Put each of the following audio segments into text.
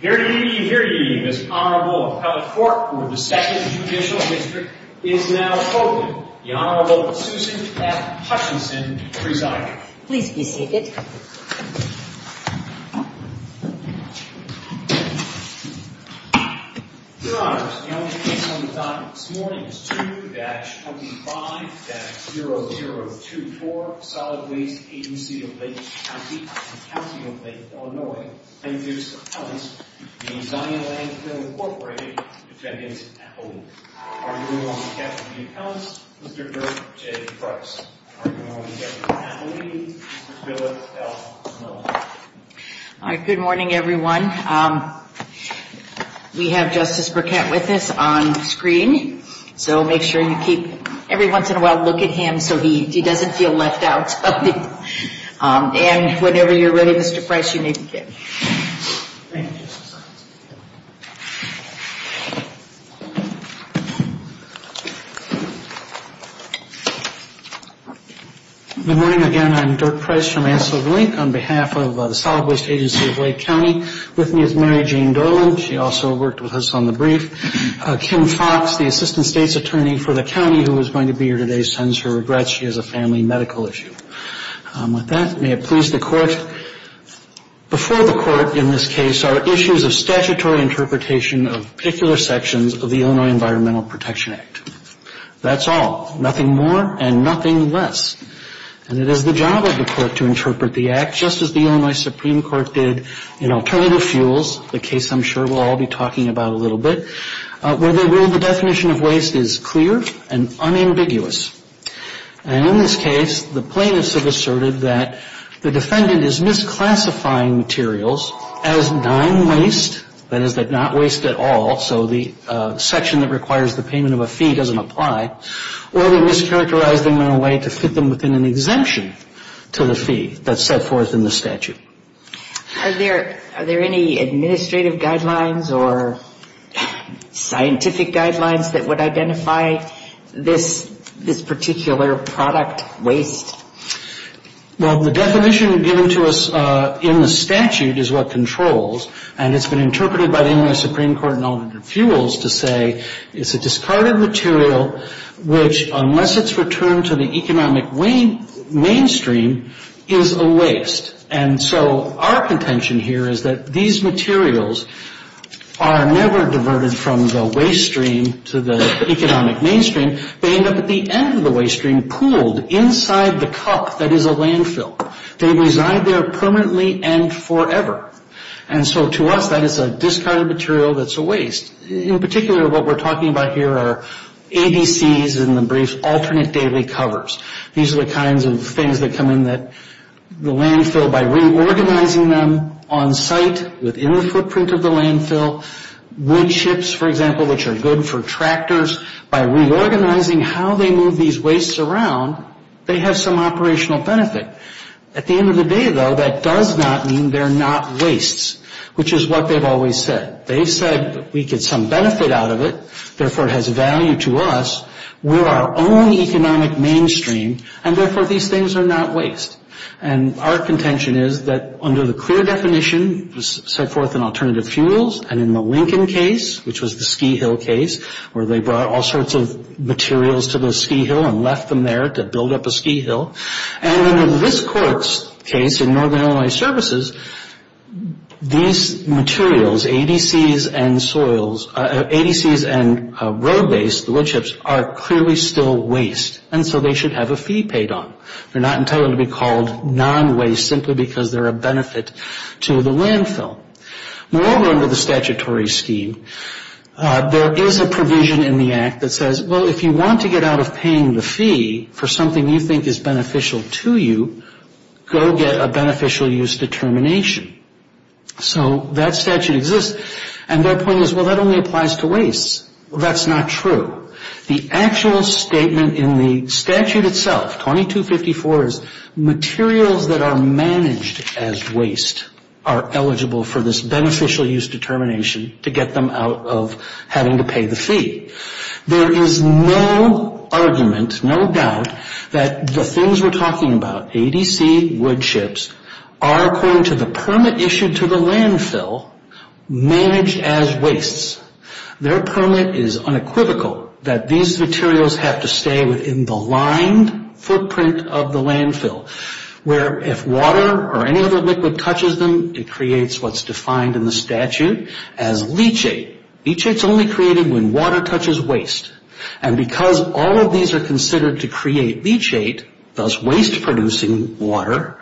Here ye, here ye, Ms. Honorable Appellate Fork for the 2nd Judicial District is now open. The Honorable Susan F. Hutchinson presiding. Please be seated. Your Honors, the only case on the docket this morning is 2-25-0024 Solid Waste Agency of Lake County and County of Lake Illinois. Thank you Ms. Appellate. The Zion Landfill, Inc. Defendant Appellate. Are you in the room on the count of three counts? Mr. Dirk J. Price. Are you in the room on the count of three? Mr. Phillip L. Miller. Good morning everyone. We have Justice Burkett with us on screen. So make sure you keep every once in a while look at him so he doesn't feel left out. And whenever you're ready Mr. Price you may begin. Thank you. Good morning again. I'm Dirk Price from Anselm, Inc. On behalf of the Solid Waste Agency of Lake County with me is Mary Jane Dorland. She also worked with us on the brief. Kim Fox, the Assistant State's Attorney for the county who is going to be here today sends her regrets. She has a family medical issue. With that, may it please the Court. Before the Court in this case are issues of statutory interpretation of particular sections of the Illinois Environmental Protection Act. That's all. Nothing more and nothing less. And it is the job of the Court to interpret the Act just as the Illinois Supreme Court did in Alternative Fuels, the case I'm sure we'll all be talking about a little bit, where they ruled the definition of waste is clear and unambiguous. And in this case, the plaintiffs have asserted that the defendant is misclassifying materials as non-waste, that is, they're not waste at all, so the section that requires the payment of a fee doesn't apply, or they mischaracterize them in a way to fit them within an exemption to the fee that's set forth in the statute. Are there any administrative guidelines or scientific guidelines that would identify this section? This particular product waste? Well, the definition given to us in the statute is what controls, and it's been interpreted by the Illinois Supreme Court in Alternative Fuels to say it's a discarded material, which unless it's returned to the economic mainstream, is a waste. And so our contention here is that these materials are never diverted from the waste stream to the economic mainstream. They end up at the end of the waste stream, pooled inside the cup that is a landfill. They reside there permanently and forever. And so to us, that is a discarded material that's a waste. In particular, what we're talking about here are ABCs, in the brief, alternate daily covers. These are the kinds of things that come in the landfill by reorganizing them on site within the footprint of the landfill. Wood chips, for example, which are good for tractors. By reorganizing how they move these wastes around, they have some operational benefit. At the end of the day, though, that does not mean they're not wastes, which is what they've always said. They've said we get some benefit out of it, therefore it has value to us. We're our own economic mainstream, and therefore these things are not waste. And our contention is that under the clear definition set forth in alternative fuels and in the Lincoln case, which was the ski hill case, where they brought all sorts of materials to the ski hill and left them there to build up a ski hill. And in this court's case, in Northern Illinois Services, these materials, ABCs and soils, ABCs and road base, the wood chips, are clearly still waste, and so they should have a fee paid on. They're not intended to be called non-waste simply because they're a benefit to the landfill. Moreover, under the statutory scheme, there is a provision in the act that says, well, if you want to get out of paying the fee for something you think is beneficial to you, go get a beneficial use determination. So that statute exists, and their point is, well, that only applies to wastes. Well, that's not true. The actual statement in the statute itself, 2254, is materials that are managed as waste are eligible for this beneficial use determination to get them out of having to pay the fee. There is no argument, no doubt, that the things we're talking about, ABC, wood chips, are, according to the permit issued to the landfill, managed as wastes. Their permit is unequivocal that these materials have to stay within the lined footprint of the landfill, where if water or any other liquid touches them, it creates what's defined in the statute as leachate. Leachate's only created when water touches waste, and because all of these are considered to create leachate, thus waste-producing water,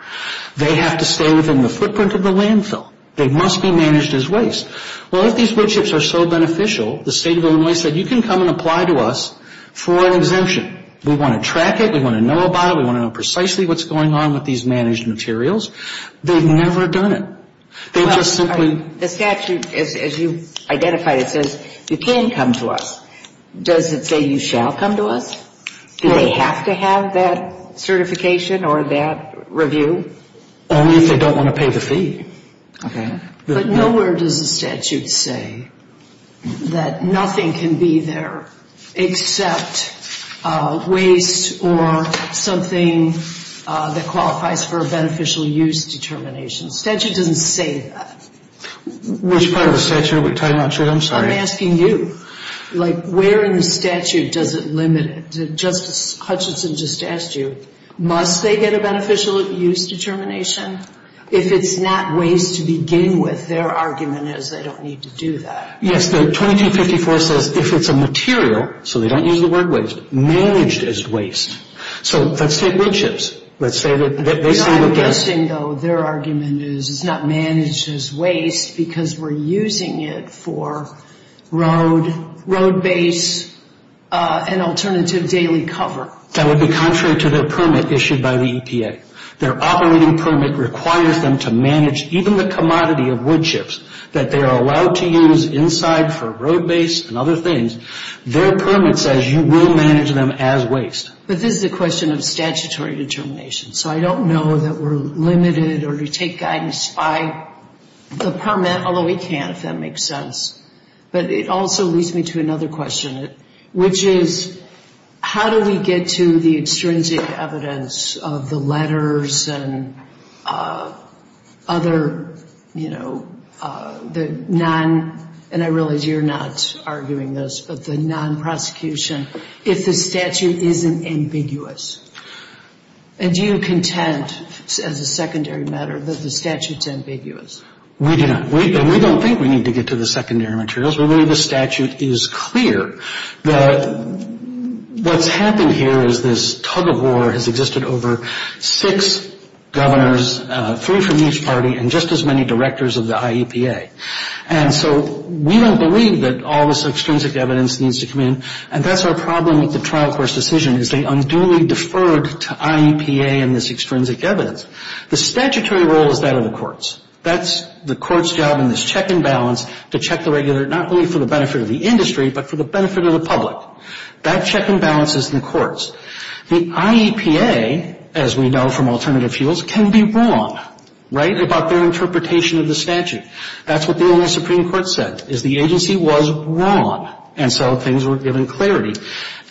they have to stay within the footprint of the landfill. They must be managed as waste. Well, if these wood chips are so beneficial, the State of Illinois said, you can come and apply to us for an exemption. We want to track it. We want to know about it. We want to know precisely what's going on with these managed materials. They've never done it. They've just simply... The statute, as you've identified it, says you can come to us. Does it say you shall come to us? Do they have to have that certification or that review? Only if they don't want to pay the fee. Okay. But nowhere does the statute say that nothing can be there except waste or something that qualifies for a beneficial use determination. The statute doesn't say that. Which part of the statute? I'm not sure. I'm sorry. I'm asking you. Like, where in the statute does it limit it? Justice Hutchinson just asked you, must they get a beneficial use determination? If it's not waste to begin with, their argument is they don't need to do that. The 2254 says if it's a material, so they don't use the word waste, managed as waste. So let's take wood chips. Let's say that they stand against... I'm guessing, though, their argument is it's not managed as waste because we're using it for road, road base, and alternative daily cover. That would be contrary to the permit issued by the EPA. Their operating permit requires them to manage even the commodity of wood chips that they are allowed to use inside for road base and other things. Their permit says you will manage them as waste. But this is a question of statutory determination. So I don't know that we're limited or we take guidance by the permit, although we can if that makes sense. But it also leads me to another question, which is how do we get to the extrinsic evidence of the letters and other, you know, the non, and I realize you're not arguing this, but the non-prosecution, if the statute isn't ambiguous? And do you contend, as a secondary matter, that the statute's ambiguous? We do not. We don't think we need to get to the secondary materials. The way the statute is clear, what's happened here is this tug of war has existed over six governors, three from each party, and just as many directors of the IEPA. And so we don't believe that all this extrinsic evidence needs to come in, and that's our problem with the trial court's decision is they unduly deferred to IEPA and this extrinsic evidence. The statutory role is that of the courts. That's the court's job in this check and balance to check the regular, not only for the benefit of the industry, but for the benefit of the public. That check and balance is in the courts. The IEPA, as we know from alternative fuels, can be wrong, right, about their interpretation of the statute. That's what the old Supreme Court said, is the agency was wrong, and so things were given clarity.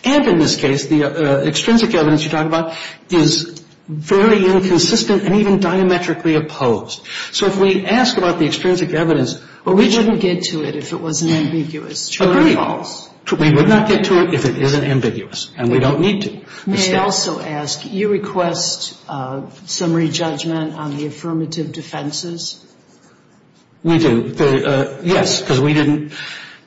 And in this case, the extrinsic evidence you're talking about is very inconsistent and even diametrically opposed. So if we ask about the extrinsic evidence. But we wouldn't get to it if it wasn't ambiguous. Agreed. We would not get to it if it isn't ambiguous, and we don't need to. May I also ask, you request summary judgment on the affirmative defenses? We do. Yes, because we didn't.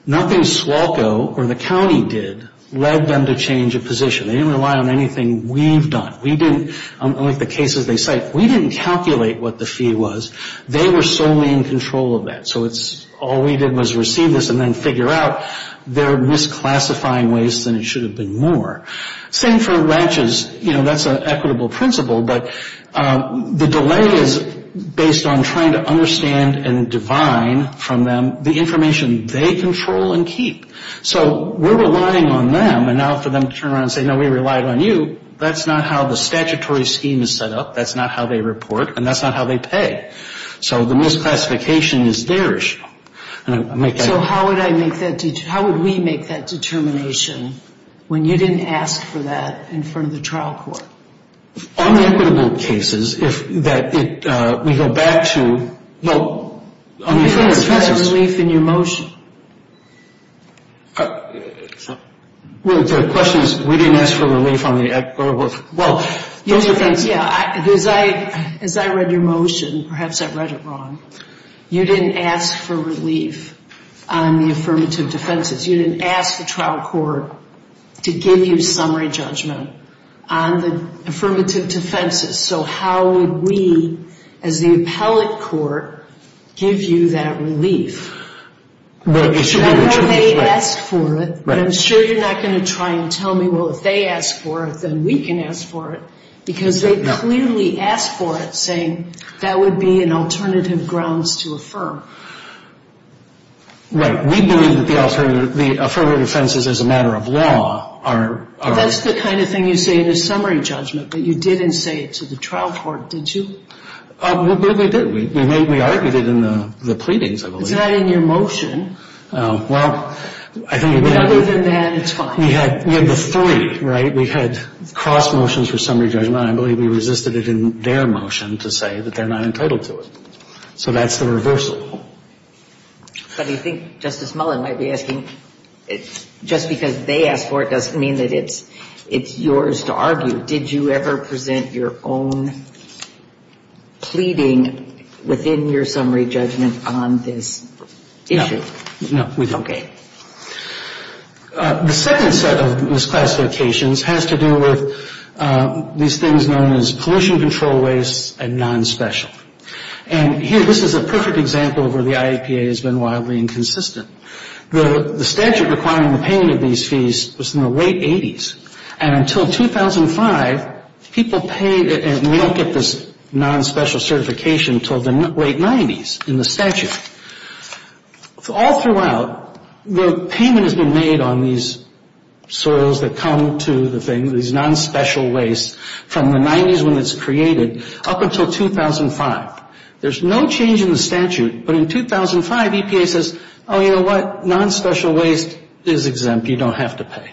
Nothing SWALCO or the county did led them to change a position. They didn't rely on anything we've done. We didn't, like the cases they cite, we didn't calculate what the fee was. They were solely in control of that. So it's all we did was receive this and then figure out they're misclassifying waste, and it should have been more. Same for ranches. You know, that's an equitable principle, but the delay is based on trying to understand and divine from them the information they control and keep. So we're relying on them, and now for them to turn around and say, no, we relied on you. That's not how the statutory scheme is set up. That's not how they report, and that's not how they pay. So the misclassification is their issue. So how would I make that, how would we make that determination when you didn't ask for that in front of the trial court? On the equitable cases, if that, we go back to, well, on the affirmative defenses. You didn't ask for that relief in your motion. Well, the question is, we didn't ask for relief on the equitable. Well, yeah, as I read your motion, perhaps I read it wrong. You didn't ask for relief on the affirmative defenses. You didn't ask the trial court to give you summary judgment on the affirmative defenses. So how would we, as the appellate court, give you that relief? Well, they asked for it. I'm sure you're not going to try and tell me, well, if they asked for it, then we can ask for it, because they clearly asked for it, saying that would be an alternative grounds to affirm. Right. We believe that the affirmative defenses as a matter of law are... That's the kind of thing you say in a summary judgment, but you didn't say it to the trial court, did you? We did. We argued it in the pleadings, I believe. It's not in your motion. Well, I think we had... Other than that, it's fine. We had the three, right? We had cross motions for summary judgment. I believe we resisted it in their motion to say that they're not entitled to it. So that's the reversal. But I think Justice Mullen might be asking, just because they asked for it doesn't mean that it's yours to argue. Did you ever present your own pleading within your summary judgment on this issue? Okay. The second set of misclassifications has to do with these things known as pollution control waste and non-special. And here, this is a perfect example of where the IEPA has been wildly inconsistent. The statute requiring the payment of these fees was in the late 80s, and until 2005, people paid... And we don't get this non-special certification until the late 90s in the statute. All throughout, the payment has been made on these soils that come to the thing, these non-special wastes, from the 90s when it's created up until 2005. There's no change in the statute, but in 2005, EPA says, oh, you know what? Non-special waste is exempt. You don't have to pay.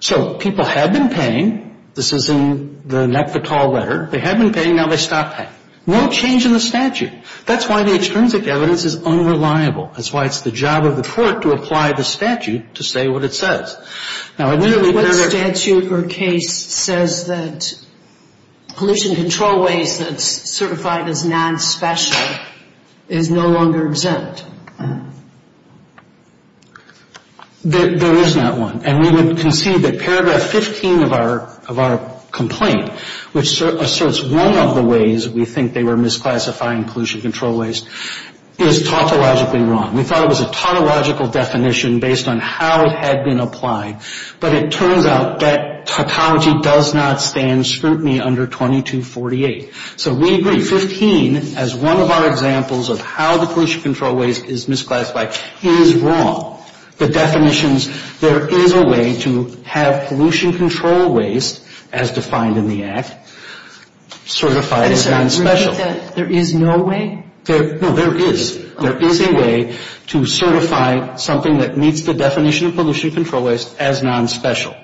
So people have been paying. This is in the NEPFATAL letter. They have been paying. Now they stop paying. No change in the statute. That's why the extrinsic evidence is unreliable. That's why it's the job of the court to apply the statute to say what it says. Now, I literally... What statute or case says that pollution control waste that's certified as non-special is no longer exempt? There is not one. And we would concede that Paragraph 15 of our complaint, which asserts one of the ways we think they were misclassifying pollution control waste, is tautologically wrong. We thought it was a tautological definition based on how it had been applied, but it turns out that tautology does not stand scrutiny under 2248. So we agree, 15, as one of our examples of how the pollution control waste is misclassified, is wrong. The definitions... There is a way to have pollution control waste, as defined in the Act, certified as non-special. There is no way? No, there is. There is a way to certify something that meets the definition of pollution control waste as non-special.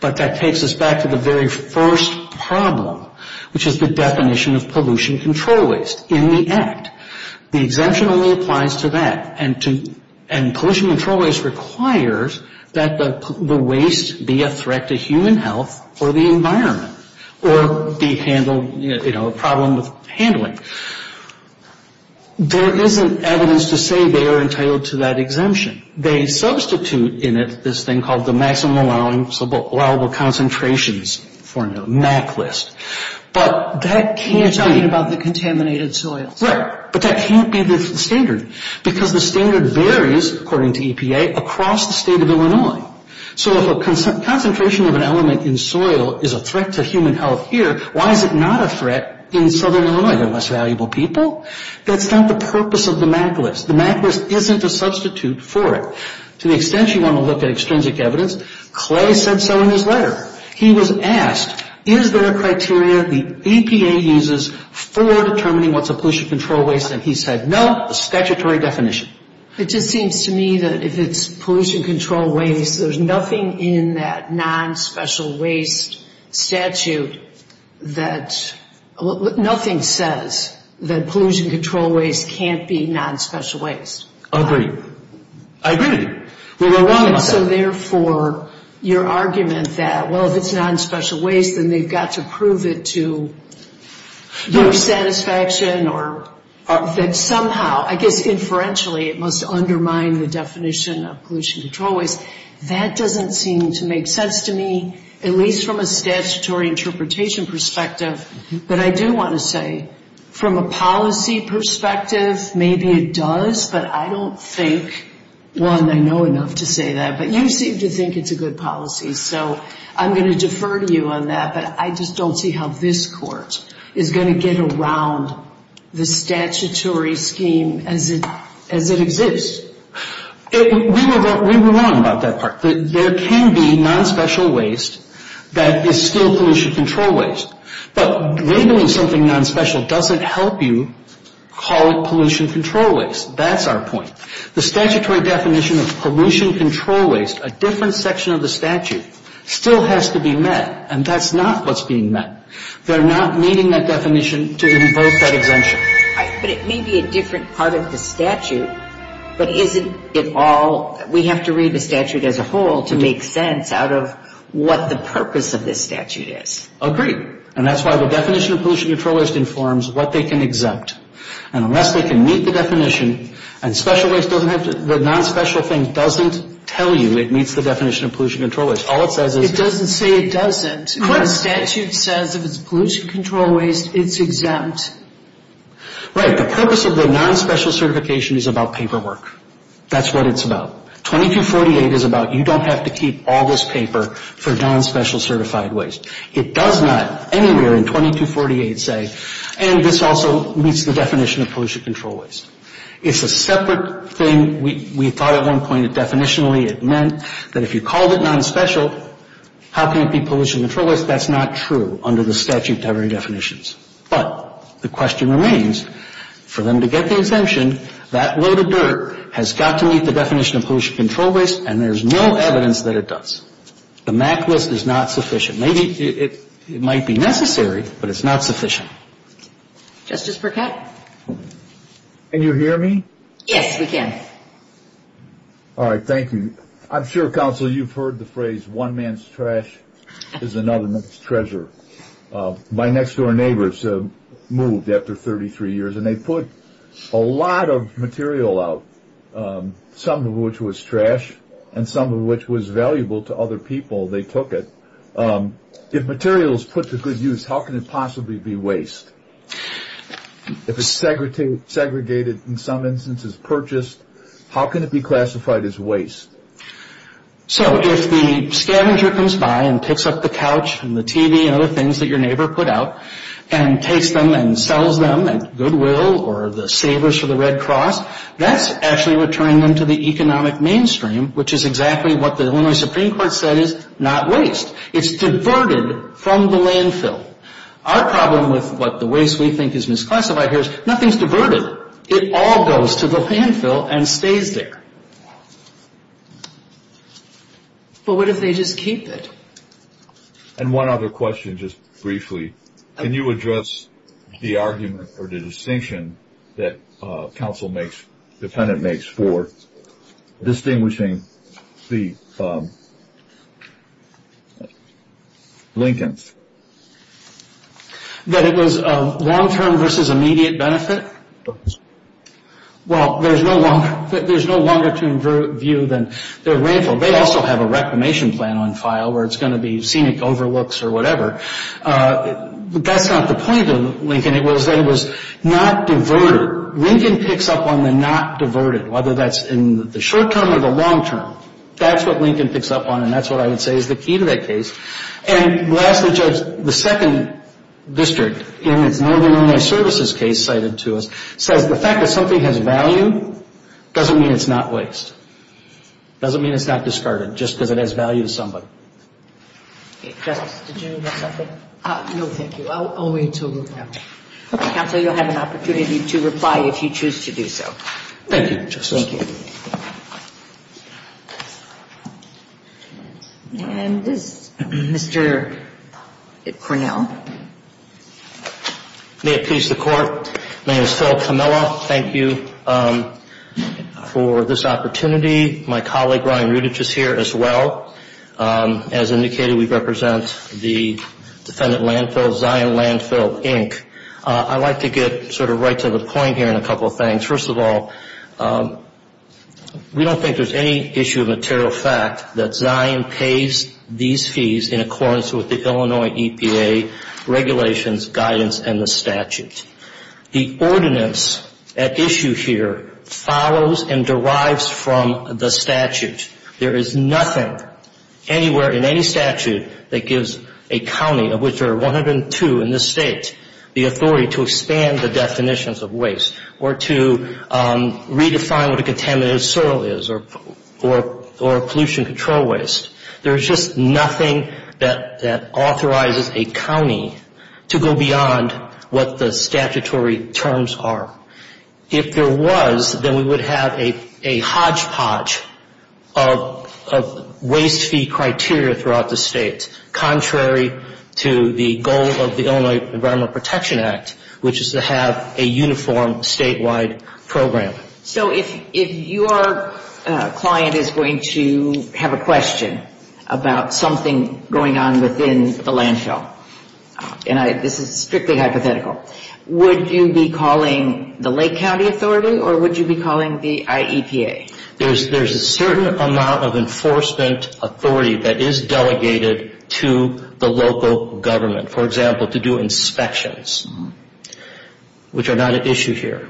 But that takes us back to the very first problem, which is the definition of pollution control waste in the Act. The exemption only applies to that. And pollution control waste requires that the waste be a threat to human health or the environment, or be handled, you know, a problem with handling. There isn't evidence to say they are entitled to that exemption. They substitute in it this thing called the maximum allowable concentrations formula, MAC list. But that can't be... But that can't be the standard because the standard varies, according to EPA, across the state of Illinois. So if a concentration of an element in soil is a threat to human health here, why is it not a threat in southern Illinois? You have less valuable people? That's not the purpose of the MAC list. The MAC list isn't a substitute for it. To the extent you want to look at extrinsic evidence, Clay said so in his letter. He was asked, is there a criteria the EPA uses for determining what's a pollution control waste? And he said, no, a statutory definition. It just seems to me that if it's pollution control waste, there's nothing in that nonspecial waste statute that... Nothing says that pollution control waste can't be nonspecial waste. Agreed. I agree with you. Well, we're wrong about that. Also, therefore, your argument that, well, if it's nonspecial waste, then they've got to prove it to your satisfaction or... That somehow, I guess, inferentially, it must undermine the definition of pollution control waste. That doesn't seem to make sense to me, at least from a statutory interpretation perspective. But I do want to say, from a policy perspective, maybe it does, but I don't think... You seem to think it's a good policy, so I'm going to defer to you on that, but I just don't see how this Court is going to get around the statutory scheme as it exists. We were wrong about that part. There can be nonspecial waste that is still pollution control waste, but labeling something nonspecial doesn't help you call it pollution control waste. That's our point. The statutory definition of pollution control waste, a different section of the statute, still has to be met, and that's not what's being met. They're not meeting that definition to impose that exemption. But it may be a different part of the statute, but isn't it all... We have to read the statute as a whole to make sense out of what the purpose of this statute is. Agreed. And that's why the definition of pollution control waste informs what they can exempt. And unless they can meet the definition, and special waste doesn't have to... The nonspecial thing doesn't tell you it meets the definition of pollution control waste. All it says is... It doesn't say it doesn't. The statute says if it's pollution control waste, it's exempt. Right. The purpose of the nonspecial certification is about paperwork. That's what it's about. 2248 is about you don't have to keep all this paper for nonspecial certified waste. It does not anywhere in 2248 say... And this also meets the definition of pollution control waste. It's a separate thing. We thought at one point that definitionally it meant that if you called it nonspecial, how can it be pollution control waste? That's not true under the statute to every definition. But the question remains for them to get the exemption, that load of dirt has got to meet the definition of pollution control waste, and there's no evidence that it does. The MAC list is not sufficient. Maybe it might be necessary, but it's not sufficient. Justice Burkett? Can you hear me? Yes, we can. All right. Thank you. I'm sure, Counsel, you've heard the phrase one man's trash is another man's treasure. My next door neighbors moved after 33 years, and they put a lot of material out, some of which was trash and some of which was valuable to other people. They took it. If material is put to good use, how can it possibly be waste? If it's segregated, in some instances purchased, how can it be classified as waste? So if the scavenger comes by and picks up the couch and the TV and other things that your neighbor put out and takes them and sells them at goodwill or the savers for the Red Cross, that's actually returning them to the economic mainstream, which is exactly what the Illinois Supreme Court said is not waste. It's diverted from the landfill. Our problem with what the waste we think is misclassified here is nothing is diverted. It all goes to the landfill and stays there. But what if they just keep it? And one other question, just briefly. Can you address the argument or the distinction that counsel makes, defendant makes for distinguishing the Lincolns? That it was a long-term versus immediate benefit? Well, there's no longer to view than their landfill. They also have a reclamation plan on file where it's going to be scenic overlooks or whatever. That's not the point of Lincoln. It was that it was not diverted. Lincoln picks up on the not diverted, whether that's in the short term or the long term. That's what Lincoln picks up on, and that's what I would say is the key to that case. And lastly, Judge, the second district in its Northern Illinois Services case cited to us says the fact that something has value doesn't mean it's not waste, doesn't mean it's not discarded, just because it has value to somebody. Justice, did you have something? No, thank you. I'll wait until we have it. Okay. Counsel, you'll have an opportunity to reply if you choose to do so. Thank you, Justice. Thank you. And is Mr. Cornell? May it please the Court. My name is Phil Cornell. First of all, thank you for this opportunity. My colleague, Ryan Rudich, is here as well. As indicated, we represent the defendant landfill, Zion Landfill, Inc. I'd like to get sort of right to the point here on a couple of things. First of all, we don't think there's any issue of material fact that Zion pays these fees in accordance with the Illinois EPA regulations, guidance, and the statute. The ordinance at issue here follows and derives from the statute. There is nothing anywhere in any statute that gives a county, of which there are 102 in this state, the authority to expand the definitions of waste or to redefine what a contaminated soil is or pollution control waste. There's just nothing that authorizes a county to go beyond what the statutory terms are. If there was, then we would have a hodgepodge of waste fee criteria throughout the state, contrary to the goal of the Illinois Environmental Protection Act, which is to have a uniform statewide program. If your client is going to have a question about something going on within the landfill, and this is strictly hypothetical, would you be calling the Lake County Authority or would you be calling the IEPA? There's a certain amount of enforcement authority that is delegated to the local government, for example, to do inspections, which are not at issue here.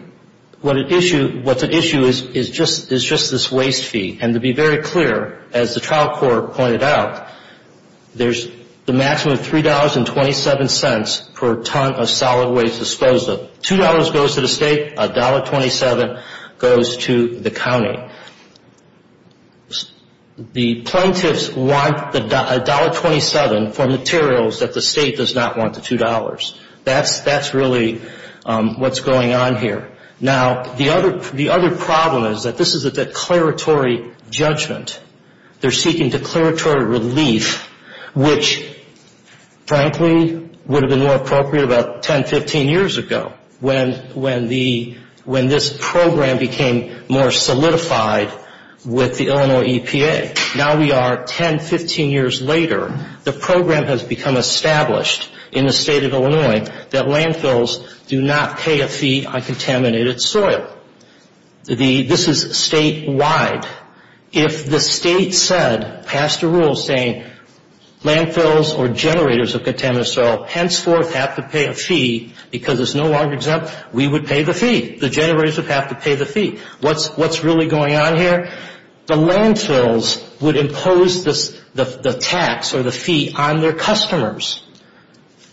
What's at issue is just this waste fee. And to be very clear, as the trial court pointed out, there's the maximum $3.27 per ton of solid waste disposed of. $2 goes to the state, $1.27 goes to the county. The plaintiffs want $1.27 for materials that the state does not want, the $2. That's really what's going on here. Now, the other problem is that this is a declaratory judgment. They're seeking declaratory relief, which, frankly, would have been more appropriate about 10, 15 years ago when this program became more solidified with the Illinois EPA. Now we are 10, 15 years later. The program has become established in the state of Illinois that landfills do not pay a fee on contaminated soil. This is statewide. If the state said, passed a rule saying landfills or generators of contaminated soil henceforth have to pay a fee because it's no longer exempt, we would pay the fee. The generators would have to pay the fee. What's really going on here? The landfills would impose the tax or the fee on their customers.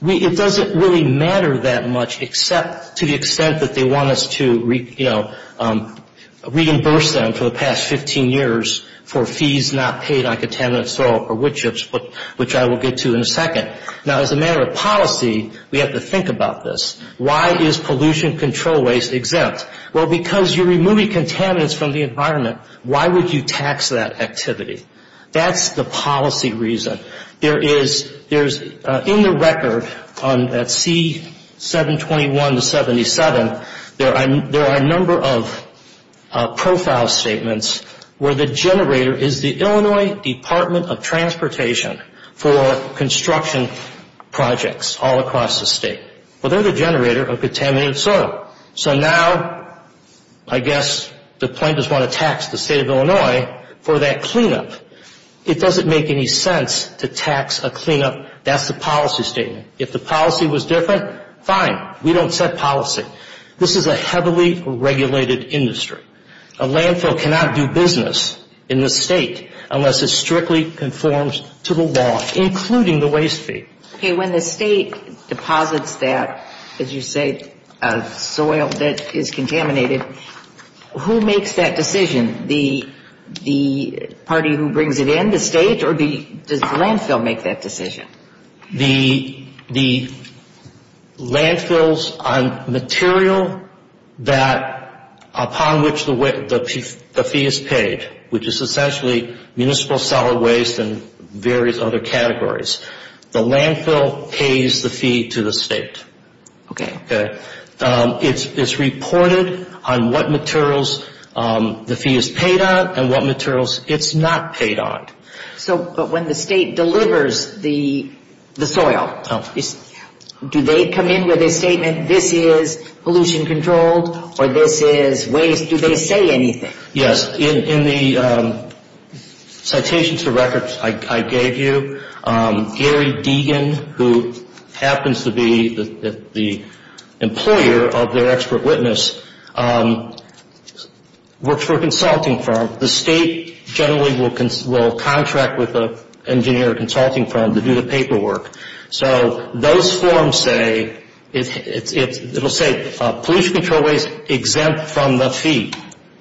It doesn't really matter that much to the extent that they want us to, you know, reimburse them for the past 15 years for fees not paid on contaminated soil or wood chips, which I will get to in a second. Now, as a matter of policy, we have to think about this. Why is pollution control waste exempt? Well, because you're removing contaminants from the environment. Why would you tax that activity? That's the policy reason. There is, in the record on that C721-77, there are a number of profile statements where the generator is the Illinois Department of Transportation for construction projects all across the state. Well, they're the generator of contaminated soil. So now I guess the plaintiffs want to tax the state of Illinois for that cleanup. It doesn't make any sense to tax a cleanup. That's the policy statement. If the policy was different, fine. We don't set policy. This is a heavily regulated industry. A landfill cannot do business in the state unless it strictly conforms to the law, including the waste fee. Okay, when the state deposits that, as you say, soil that is contaminated, who makes that decision? The party who brings it in, the state, or does the landfill make that decision? The landfills on material that upon which the fee is paid, which is essentially municipal solid waste and various other categories. The landfill pays the fee to the state. Okay. Okay. It's reported on what materials the fee is paid on and what materials it's not paid on. So, but when the state delivers the soil, do they come in with a statement, this is pollution controlled or this is waste, do they say anything? Yes, in the citations to records I gave you, Gary Deegan, who happens to be the employer of their expert witness, works for a consulting firm. The state generally will contract with an engineer or consulting firm to do the paperwork. So those forms say, it will say pollution control waste exempt from the fee.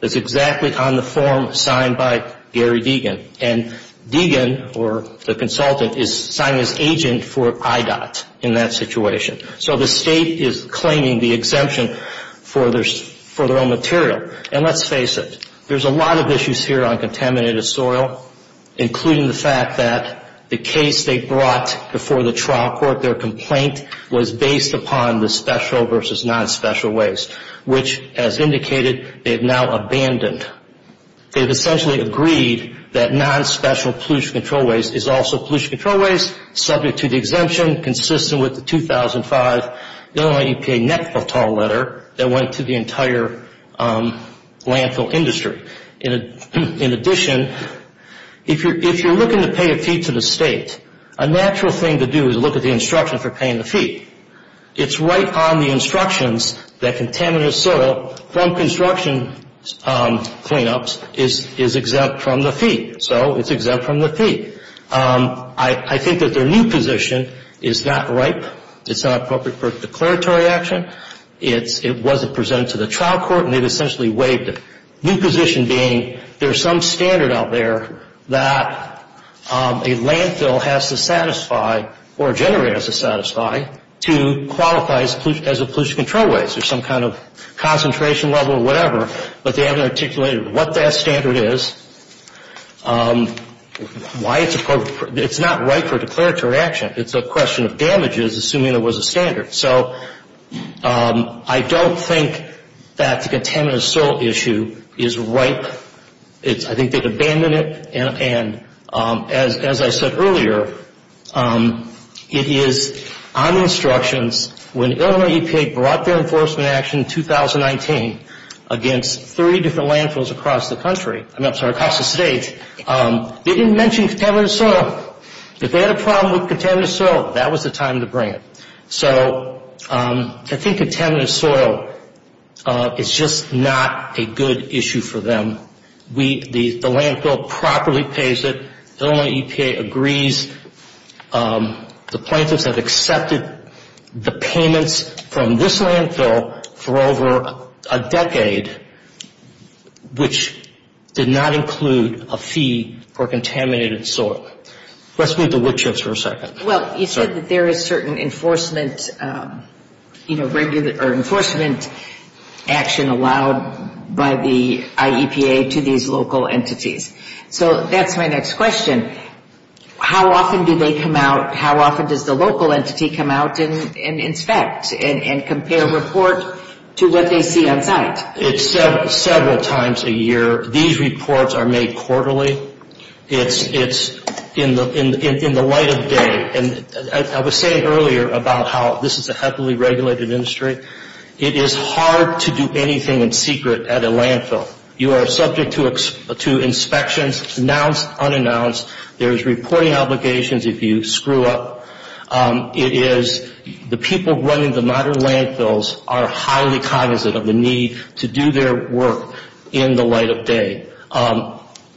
It's exactly on the form signed by Gary Deegan. And Deegan, or the consultant, is signed as agent for IDOT in that situation. So the state is claiming the exemption for their own material. And let's face it, there's a lot of issues here on contaminated soil, including the fact that the case they brought before the trial court, their complaint was based upon the special versus non-special waste, which, as indicated, they've now abandoned. They've essentially agreed that non-special pollution control waste is also pollution control waste, subject to the exemption, consistent with the 2005 Illinois EPA net total letter that went to the entire landfill industry. In addition, if you're looking to pay a fee to the state, a natural thing to do is look at the instruction for paying the fee. It's right on the instructions that contaminated soil from construction cleanups is exempt from the fee. So it's exempt from the fee. I think that their new position is not right. It's not appropriate for declaratory action. It wasn't presented to the trial court, and they've essentially waived it. New position being there's some standard out there that a landfill has to satisfy or a generator has to satisfy to qualify as a pollution control waste or some kind of concentration level or whatever. But they haven't articulated what that standard is, why it's appropriate. It's not right for declaratory action. It's a question of damages, assuming it was a standard. So I don't think that the contaminated soil issue is right. I think they've abandoned it. As I said earlier, it is on the instructions when Illinois EPA brought their enforcement action in 2019 against three different landfills across the country, I'm sorry, across the state, they didn't mention contaminated soil. If they had a problem with contaminated soil, that was the time to bring it. So I think contaminated soil is just not a good issue for them. The landfill properly pays it. Illinois EPA agrees. The plaintiffs have accepted the payments from this landfill for over a decade, which did not include a fee for contaminated soil. Let's move to Wichita for a second. Well, you said that there is certain enforcement action allowed by the IEPA to these local entities. So that's my next question. How often do they come out? How often does the local entity come out and inspect and compare report to what they see on site? It's several times a year. These reports are made quarterly. It's in the light of day. I was saying earlier about how this is a heavily regulated industry. It is hard to do anything in secret at a landfill. You are subject to inspections, announced, unannounced. There's reporting obligations if you screw up. The people running the modern landfills are highly cognizant of the need to do their work in the light of day.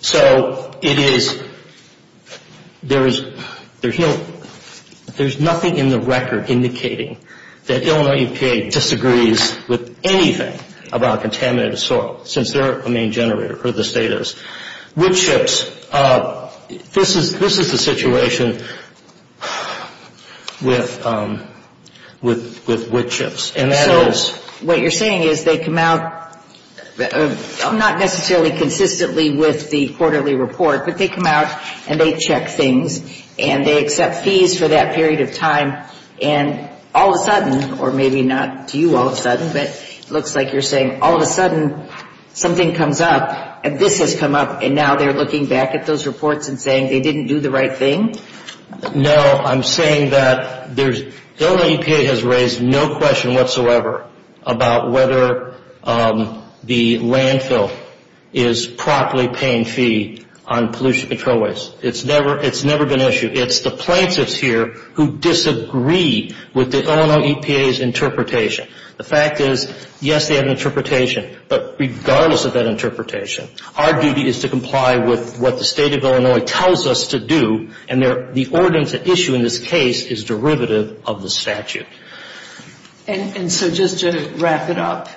So there's nothing in the record indicating that Illinois EPA disagrees with anything about contaminated soil, since they're a main generator, or the state is. Wichita, this is the situation with Wichita. So what you're saying is they come out, not necessarily consistently with the quarterly report, but they come out and they check things, and they accept fees for that period of time, and all of a sudden, or maybe not to you all of a sudden, but it looks like you're saying all of a sudden something comes up, and this has come up, and now they're looking back at those reports and saying they didn't do the right thing? No, I'm saying that Illinois EPA has raised no question whatsoever about whether the landfill is properly paying fee on pollution control waste. It's never been issued. It's the plaintiffs here who disagree with the Illinois EPA's interpretation. The fact is, yes, they have an interpretation, but regardless of that interpretation, our duty is to comply with what the state of Illinois tells us to do, and the ordinance at issue in this case is derivative of the statute. And so just to wrap it up,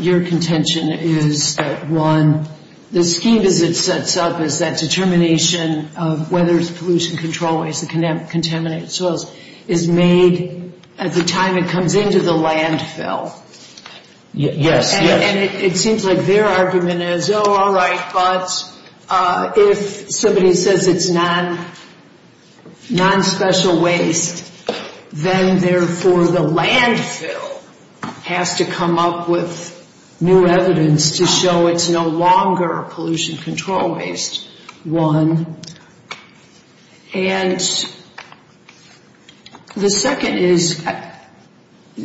your contention is that, one, the scheme as it sets up is that determination of whether it's pollution control waste and contaminated soils is made at the time it comes into the landfill. Yes, yes. And it seems like their argument is, oh, all right, but if somebody says it's non-special waste, then therefore the landfill has to come up with new evidence to show it's no longer pollution control waste, one. And the second is,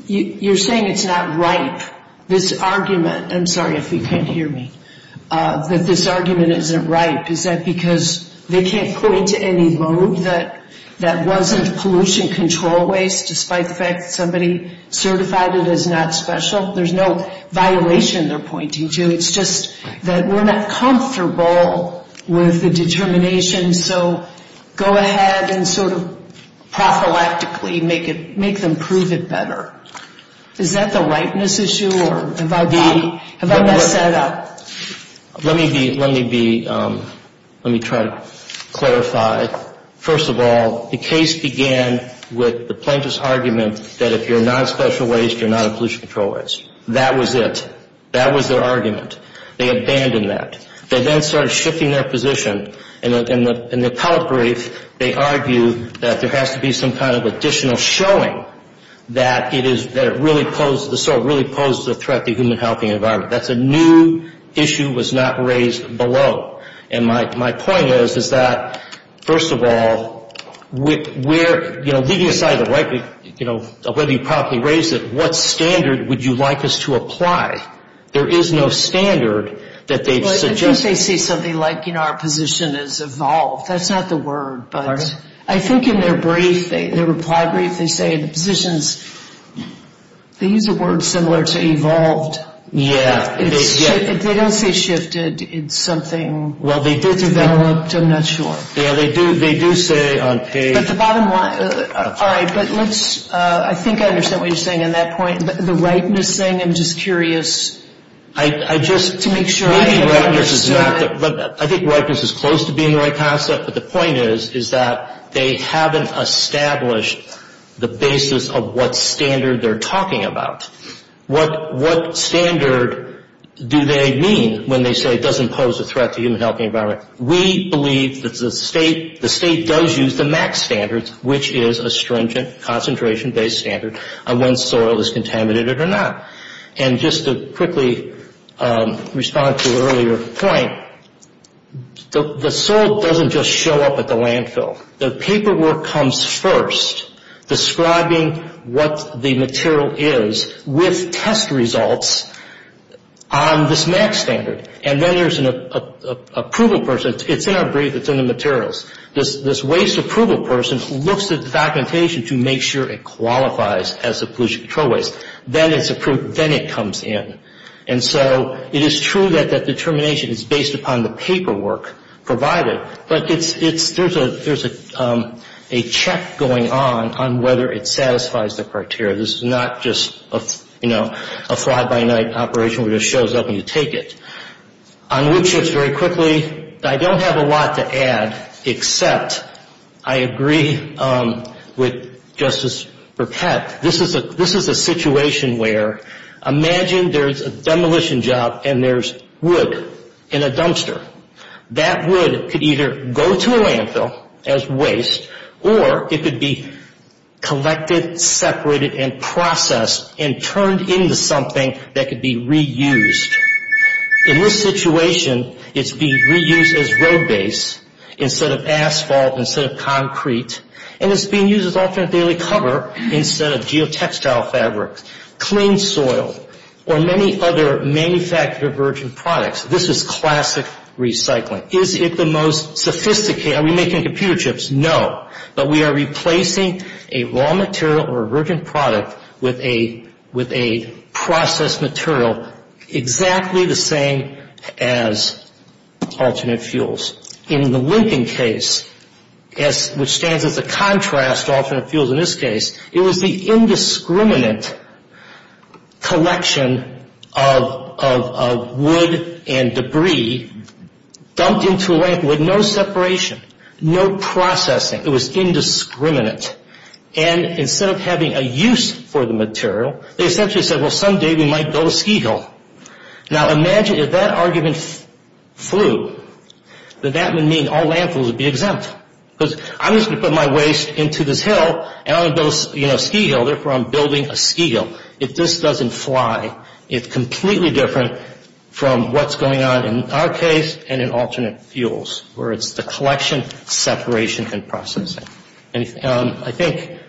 you're saying it's not ripe. This argument, I'm sorry if you can't hear me, that this argument isn't ripe, is that because they can't point to any mode that wasn't pollution control waste, despite the fact that somebody certified it as not special? There's no violation they're pointing to. It's just that we're not comfortable with the determination, so go ahead and sort of prophylactically make them prove it better. Is that the ripeness issue, or have I messed that up? Let me try to clarify. First of all, the case began with the plaintiff's argument that if you're non-special waste, you're not pollution control waste. That was it. That was their argument. They abandoned that. They then started shifting their position. In the appellate brief, they argue that there has to be some kind of additional showing that the soil really posed a threat to the human health and environment. That's a new issue that was not raised below. And my point is that, first of all, leaving aside whether you properly raised it, what standard would you like us to apply? There is no standard that they've suggested. I think they say something like, you know, our position has evolved. That's not the word, but I think in their brief, their reply brief, they say the position's, they use a word similar to evolved. Yeah. They don't say shifted. It's something developed. I'm not sure. Yeah, they do say on page. But the bottom line, all right, but let's, I think I understand what you're saying on that point. The ripeness thing, I'm just curious to make sure I understood it. I think ripeness is close to being the right concept, but the point is that they haven't established the basis of what standard they're talking about. What standard do they mean when they say it doesn't pose a threat to the human health and environment? We believe that the state does use the max standard, which is a stringent concentration-based standard on when soil is contaminated or not. And just to quickly respond to an earlier point, the soil doesn't just show up at the landfill. The paperwork comes first, describing what the material is with test results on this max standard. And then there's an approval person. It's in our brief. It's in the materials. This waste approval person looks at the documentation to make sure it qualifies as a pollution control waste. Then it's approved. Then it comes in. And so it is true that that determination is based upon the paperwork provided, but there's a check going on on whether it satisfies the criteria. This is not just, you know, a fly-by-night operation where it shows up and you take it. On wood chips, very quickly, I don't have a lot to add except I agree with Justice Burkett. In fact, this is a situation where imagine there's a demolition job and there's wood in a dumpster. That wood could either go to a landfill as waste or it could be collected, separated, and processed and turned into something that could be reused. In this situation, it's being reused as road base instead of asphalt, instead of concrete, and it's being used as alternate daily cover instead of geotextile fabric, clean soil, or many other manufactured virgin products. This is classic recycling. Is it the most sophisticated? Are we making computer chips? No. But we are replacing a raw material or a virgin product with a processed material exactly the same as alternate fuels. In the Lincoln case, which stands as a contrast to alternate fuels in this case, it was the indiscriminate collection of wood and debris dumped into a landfill with no separation, no processing. It was indiscriminate. And instead of having a use for the material, they essentially said, well, someday we might build a ski hill. Now, imagine if that argument flew, then that would mean all landfills would be exempt. Because I'm just going to put my waste into this hill, and I'm going to build a ski hill. Therefore, I'm building a ski hill. If this doesn't fly, it's completely different from what's going on in our case and in alternate fuels, where it's the collection, separation, and processing. I think,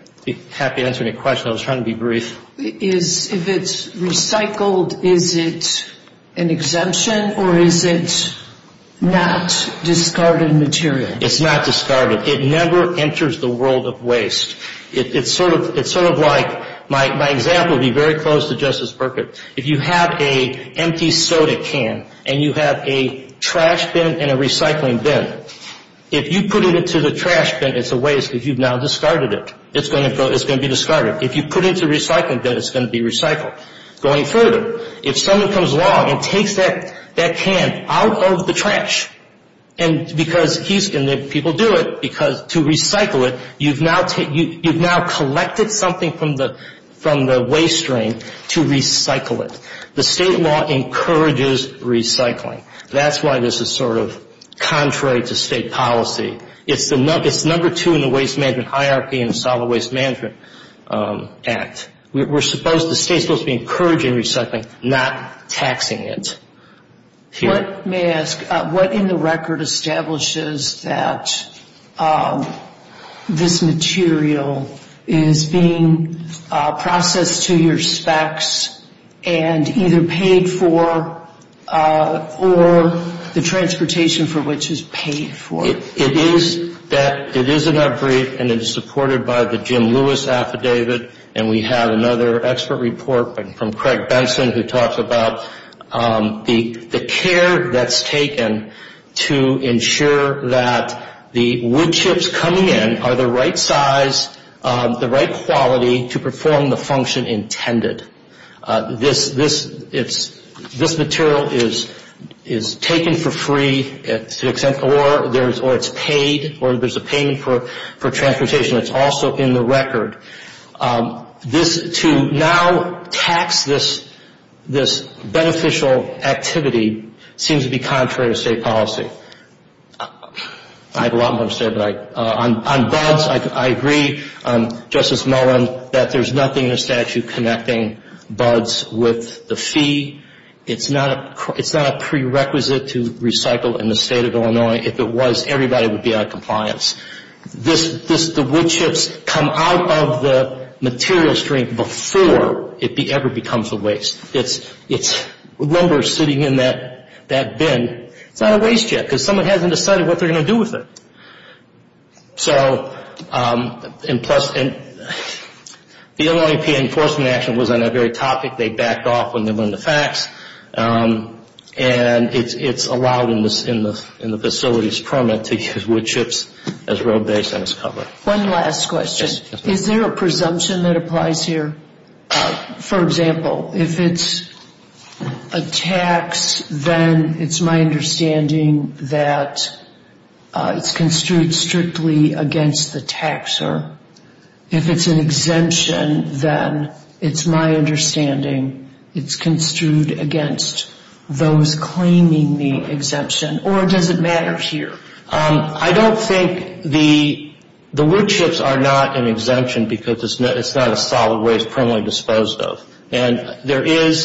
happy to answer any questions. I was trying to be brief. If it's recycled, is it an exemption, or is it not discarded material? It's not discarded. It never enters the world of waste. It's sort of like my example would be very close to Justice Burkett. If you have an empty soda can and you have a trash bin and a recycling bin, if you put it into the trash bin, it's a waste because you've now discarded it. It's going to be discarded. If you put it into a recycling bin, it's going to be recycled. Going further, if someone comes along and takes that can out of the trash, and people do it, because to recycle it, you've now collected something from the waste drain to recycle it. The state law encourages recycling. That's why this is sort of contrary to state policy. It's number two in the waste management hierarchy in the Solid Waste Management Act. The state is supposed to be encouraging recycling, not taxing it. May I ask, what in the record establishes that this material is being processed to your specs and either paid for or the transportation for which is paid for? It is in our brief, and it is supported by the Jim Lewis affidavit, and we have another expert report from Craig Benson who talks about the care that's taken to ensure that the wood chips coming in are the right size, the right quality, to perform the function intended. This material is taken for free, or it's paid, or there's a payment for transportation. It's also in the record. To now tax this beneficial activity seems to be contrary to state policy. I have a lot more to say, but on both, I agree, Justice Mullen, that there's nothing in the statute connecting buds with the fee. It's not a prerequisite to recycle in the state of Illinois. If it was, everybody would be out of compliance. The wood chips come out of the material stream before it ever becomes a waste. It's lumber sitting in that bin. It's not a waste yet because someone hasn't decided what they're going to do with it. So, and plus, the Illinois EPA enforcement action was on that very topic. They backed off when they learned the facts, and it's allowed in the facility's permit to use wood chips as road base and as cover. One last question. Is there a presumption that applies here? For example, if it's a tax, then it's my understanding that it's construed strictly against the taxer. If it's an exemption, then it's my understanding it's construed against those claiming the exemption. Or does it matter here? I don't think the wood chips are not an exemption because it's not a solid waste permanently disposed of. And there is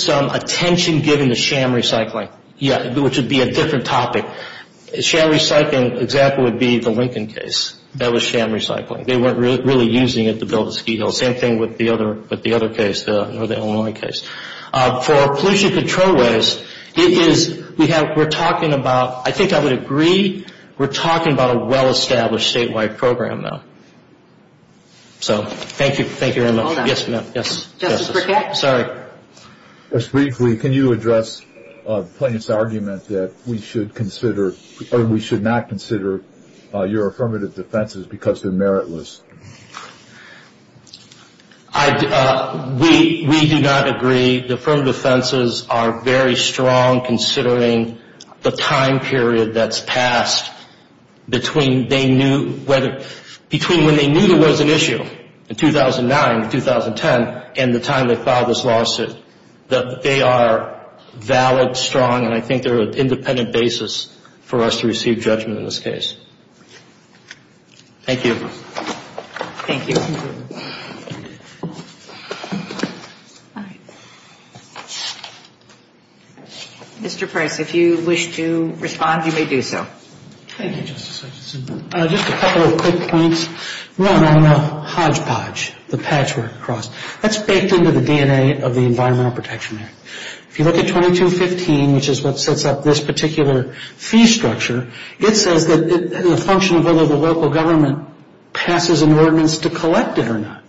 some attention given to sham recycling, which would be a different topic. A sham recycling example would be the Lincoln case. That was sham recycling. They weren't really using it to build a ski hill. Same thing with the other case, the Illinois case. For pollution control waste, it is, we're talking about, I think I would agree, we're talking about a well-established statewide program now. So, thank you. Thank you very much. Hold on. Yes, ma'am. Justice Brickett? Sorry. Just briefly, can you address the plaintiff's argument that we should consider, or we should not consider your affirmative defenses because they're meritless? We do not agree. The affirmative defenses are very strong, considering the time period that's passed between when they knew there was an issue, in 2009 or 2010, and the time they filed this lawsuit. They are valid, strong, and I think they're an independent basis for us to receive judgment in this case. Thank you. Thank you. Mr. Price, if you wish to respond, you may do so. Thank you, Justice Hutchinson. Just a couple of quick points. One, on the hodgepodge, the patchwork cross, that's baked into the DNA of the Environmental Protection Act. If you look at 2215, which is what sets up this particular fee structure, it says that the function of whether the local government passes an ordinance to collect it or not.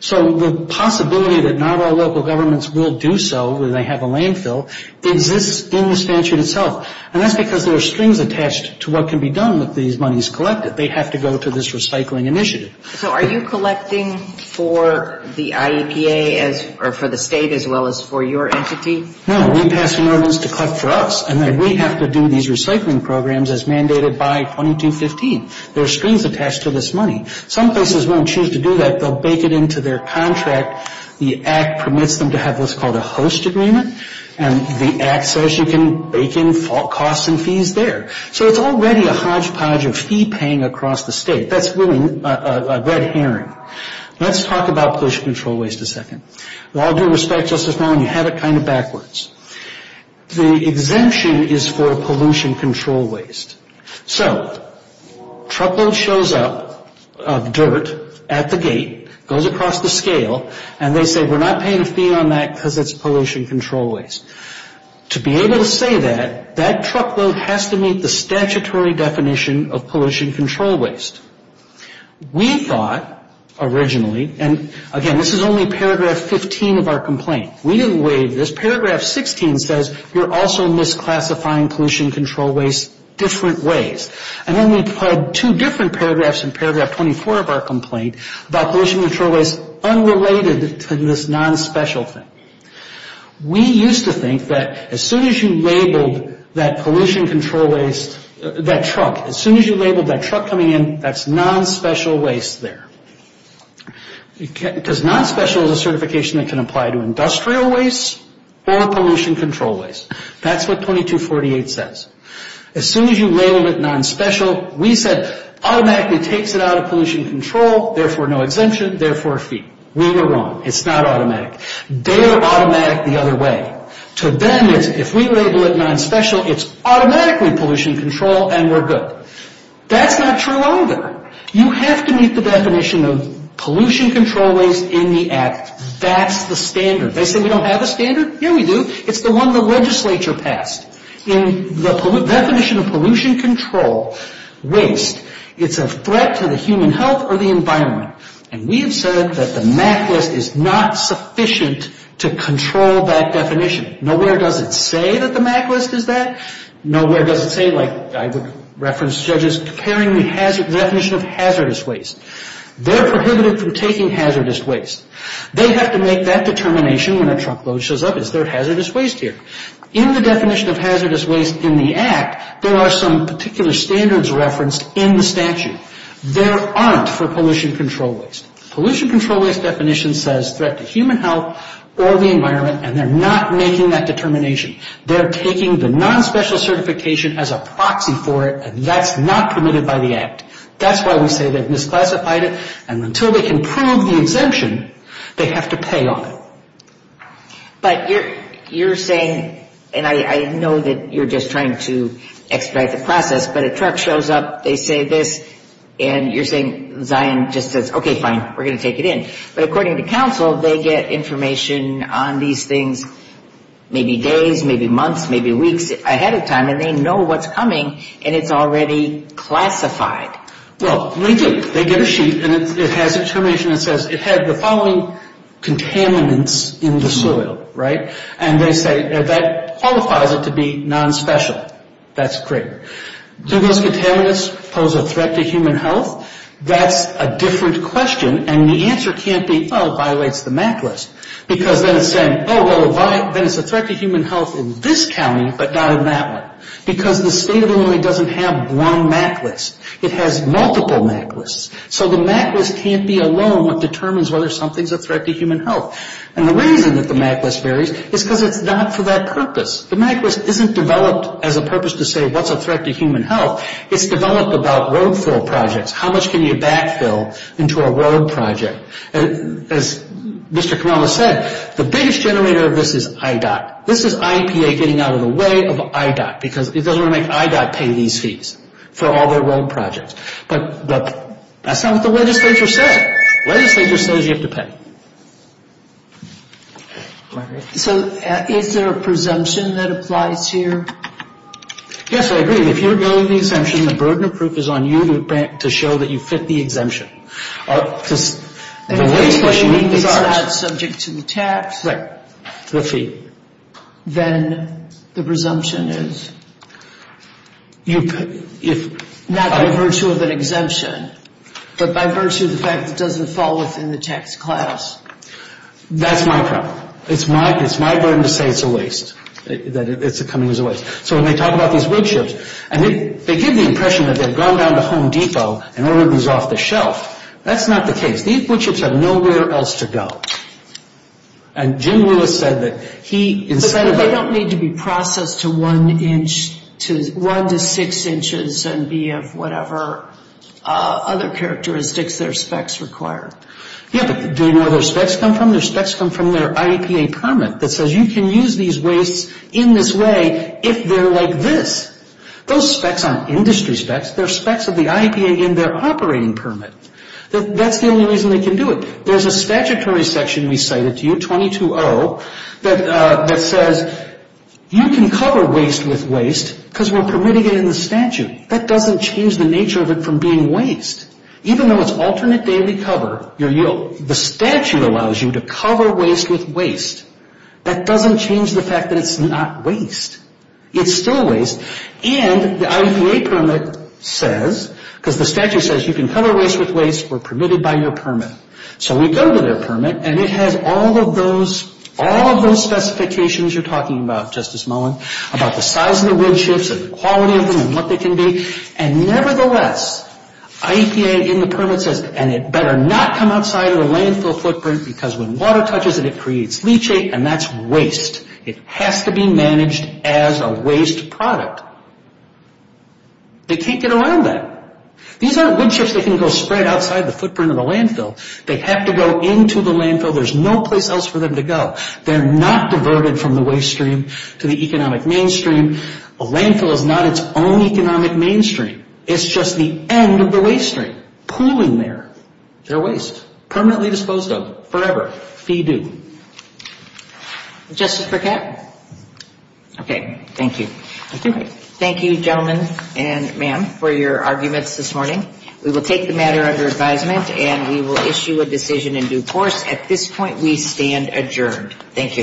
So the possibility that not all local governments will do so, that they have a landfill, exists in the statute itself. And that's because there are strings attached to what can be done with these monies collected. They have to go to this recycling initiative. So are you collecting for the IEPA, or for the state, as well as for your entity? No, we pass an ordinance to collect for us, and then we have to do these recycling programs as mandated by 2215. There are strings attached to this money. Some places won't choose to do that. They'll bake it into their contract. The Act permits them to have what's called a host agreement, and the Act says you can bake in cost and fees there. So it's already a hodgepodge of fee paying across the state. That's really a red herring. Let's talk about pollution control a second. With all due respect, Justice Mullen, you have it kind of backwards. The exemption is for pollution control waste. So truckload shows up of dirt at the gate, goes across the scale, and they say we're not paying a fee on that because it's pollution control waste. To be able to say that, that truckload has to meet the statutory definition of pollution control waste. We thought originally, and again, this is only paragraph 15 of our complaint. We didn't waive this. Paragraph 16 says you're also misclassifying pollution control waste different ways. And then we applied two different paragraphs in paragraph 24 of our complaint about pollution control waste unrelated to this nonspecial thing. We used to think that as soon as you labeled that pollution control waste, that truck, as soon as you labeled that truck coming in, that's nonspecial waste there. Because nonspecial is a certification that can apply to industrial waste or pollution control waste. That's what 2248 says. As soon as you label it nonspecial, we said automatically takes it out of pollution control, therefore no exemption, therefore a fee. We were wrong. It's not automatic. They are automatic the other way. To them, if we label it nonspecial, it's automatically pollution control and we're good. That's not true either. You have to meet the definition of pollution control waste in the act. That's the standard. They say we don't have a standard. Yeah, we do. It's the one the legislature passed. In the definition of pollution control waste, it's a threat to the human health or the environment. And we have said that the MAC list is not sufficient to control that definition. Nowhere does it say that the MAC list is that. Nowhere does it say, like I would reference judges, comparing the definition of hazardous waste. They're prohibited from taking hazardous waste. They have to make that determination when a truckload shows up. Is there hazardous waste here? In the definition of hazardous waste in the act, there are some particular standards referenced in the statute. There aren't for pollution control waste. Pollution control waste definition says threat to human health or the environment, and they're not making that determination. They're taking the nonspecial certification as a proxy for it, and that's not permitted by the act. That's why we say they've misclassified it. And until they can prove the exemption, they have to pay on it. But you're saying, and I know that you're just trying to expedite the process, but a truck shows up, they say this, and you're saying Zion just says, okay, fine, we're going to take it in. But according to counsel, they get information on these things maybe days, maybe months, maybe weeks ahead of time, and they know what's coming, and it's already classified. Well, they do. They get a sheet, and it has information that says it had the following contaminants in the soil, right? And they say that qualifies it to be nonspecial. That's great. Do those contaminants pose a threat to human health? That's a different question, and the answer can't be, oh, it violates the MAC list. Because then it's saying, oh, well, then it's a threat to human health in this county, but not in that one. Because the state of Illinois doesn't have one MAC list. It has multiple MAC lists. So the MAC list can't be alone what determines whether something's a threat to human health. And the reason that the MAC list varies is because it's not for that purpose. The MAC list isn't developed as a purpose to say what's a threat to human health. It's developed about road fill projects. How much can you backfill into a road project? As Mr. Kamala said, the biggest generator of this is IDOT. This is IEPA getting out of the way of IDOT because it doesn't want to make IDOT pay these fees for all their road projects. But that's not what the legislature said. The legislature says you have to pay. So is there a presumption that applies here? Yes, I agree. I mean, if you're billing the exemption, the burden of proof is on you to show that you fit the exemption. If it's not subject to the tax, then the presumption is not by virtue of an exemption, but by virtue of the fact that it doesn't fall within the tax class. That's my problem. It's my burden to say it's a waste, that it's coming as a waste. So when they talk about these wood chips, and they give the impression that they've gone down to Home Depot in order to lose off the shelf. That's not the case. These wood chips have nowhere else to go. And Jim Lewis said that he instead of... But they don't need to be processed to one inch to one to six inches and be of whatever other characteristics their specs require. Yeah, but do you know where their specs come from? Their specs come from their IEPA permit that says you can use these wastes in this way if they're like this. Those specs aren't industry specs. They're specs of the IEPA in their operating permit. That's the only reason they can do it. There's a statutory section we cited to you, 22-0, that says you can cover waste with waste because we're permitting it in the statute. That doesn't change the nature of it from being waste. Even though it's alternate daily cover, the statute allows you to cover waste with waste. That doesn't change the fact that it's not waste. It's still waste. And the IEPA permit says, because the statute says you can cover waste with waste. We're permitted by your permit. So we go to their permit, and it has all of those specifications you're talking about, Justice Mullen, about the size of the wood chips and the quality of them and what they can be. And nevertheless, IEPA in the permit says, and it better not come outside of the landfill footprint because when water touches it, it creates leachate, and that's waste. It has to be managed as a waste product. They can't get around that. These aren't wood chips that can go spread outside the footprint of the landfill. They have to go into the landfill. There's no place else for them to go. They're not diverted from the waste stream to the economic mainstream. The landfill is not its own economic mainstream. It's just the end of the waste stream. Pooling there. They're waste. Permanently disposed of. Forever. Fee due. Justice Burkett? Okay. Thank you. Thank you, gentlemen and ma'am, for your arguments this morning. We will take the matter under advisement, and we will issue a decision in due course. At this point, we stand adjourned. Thank you.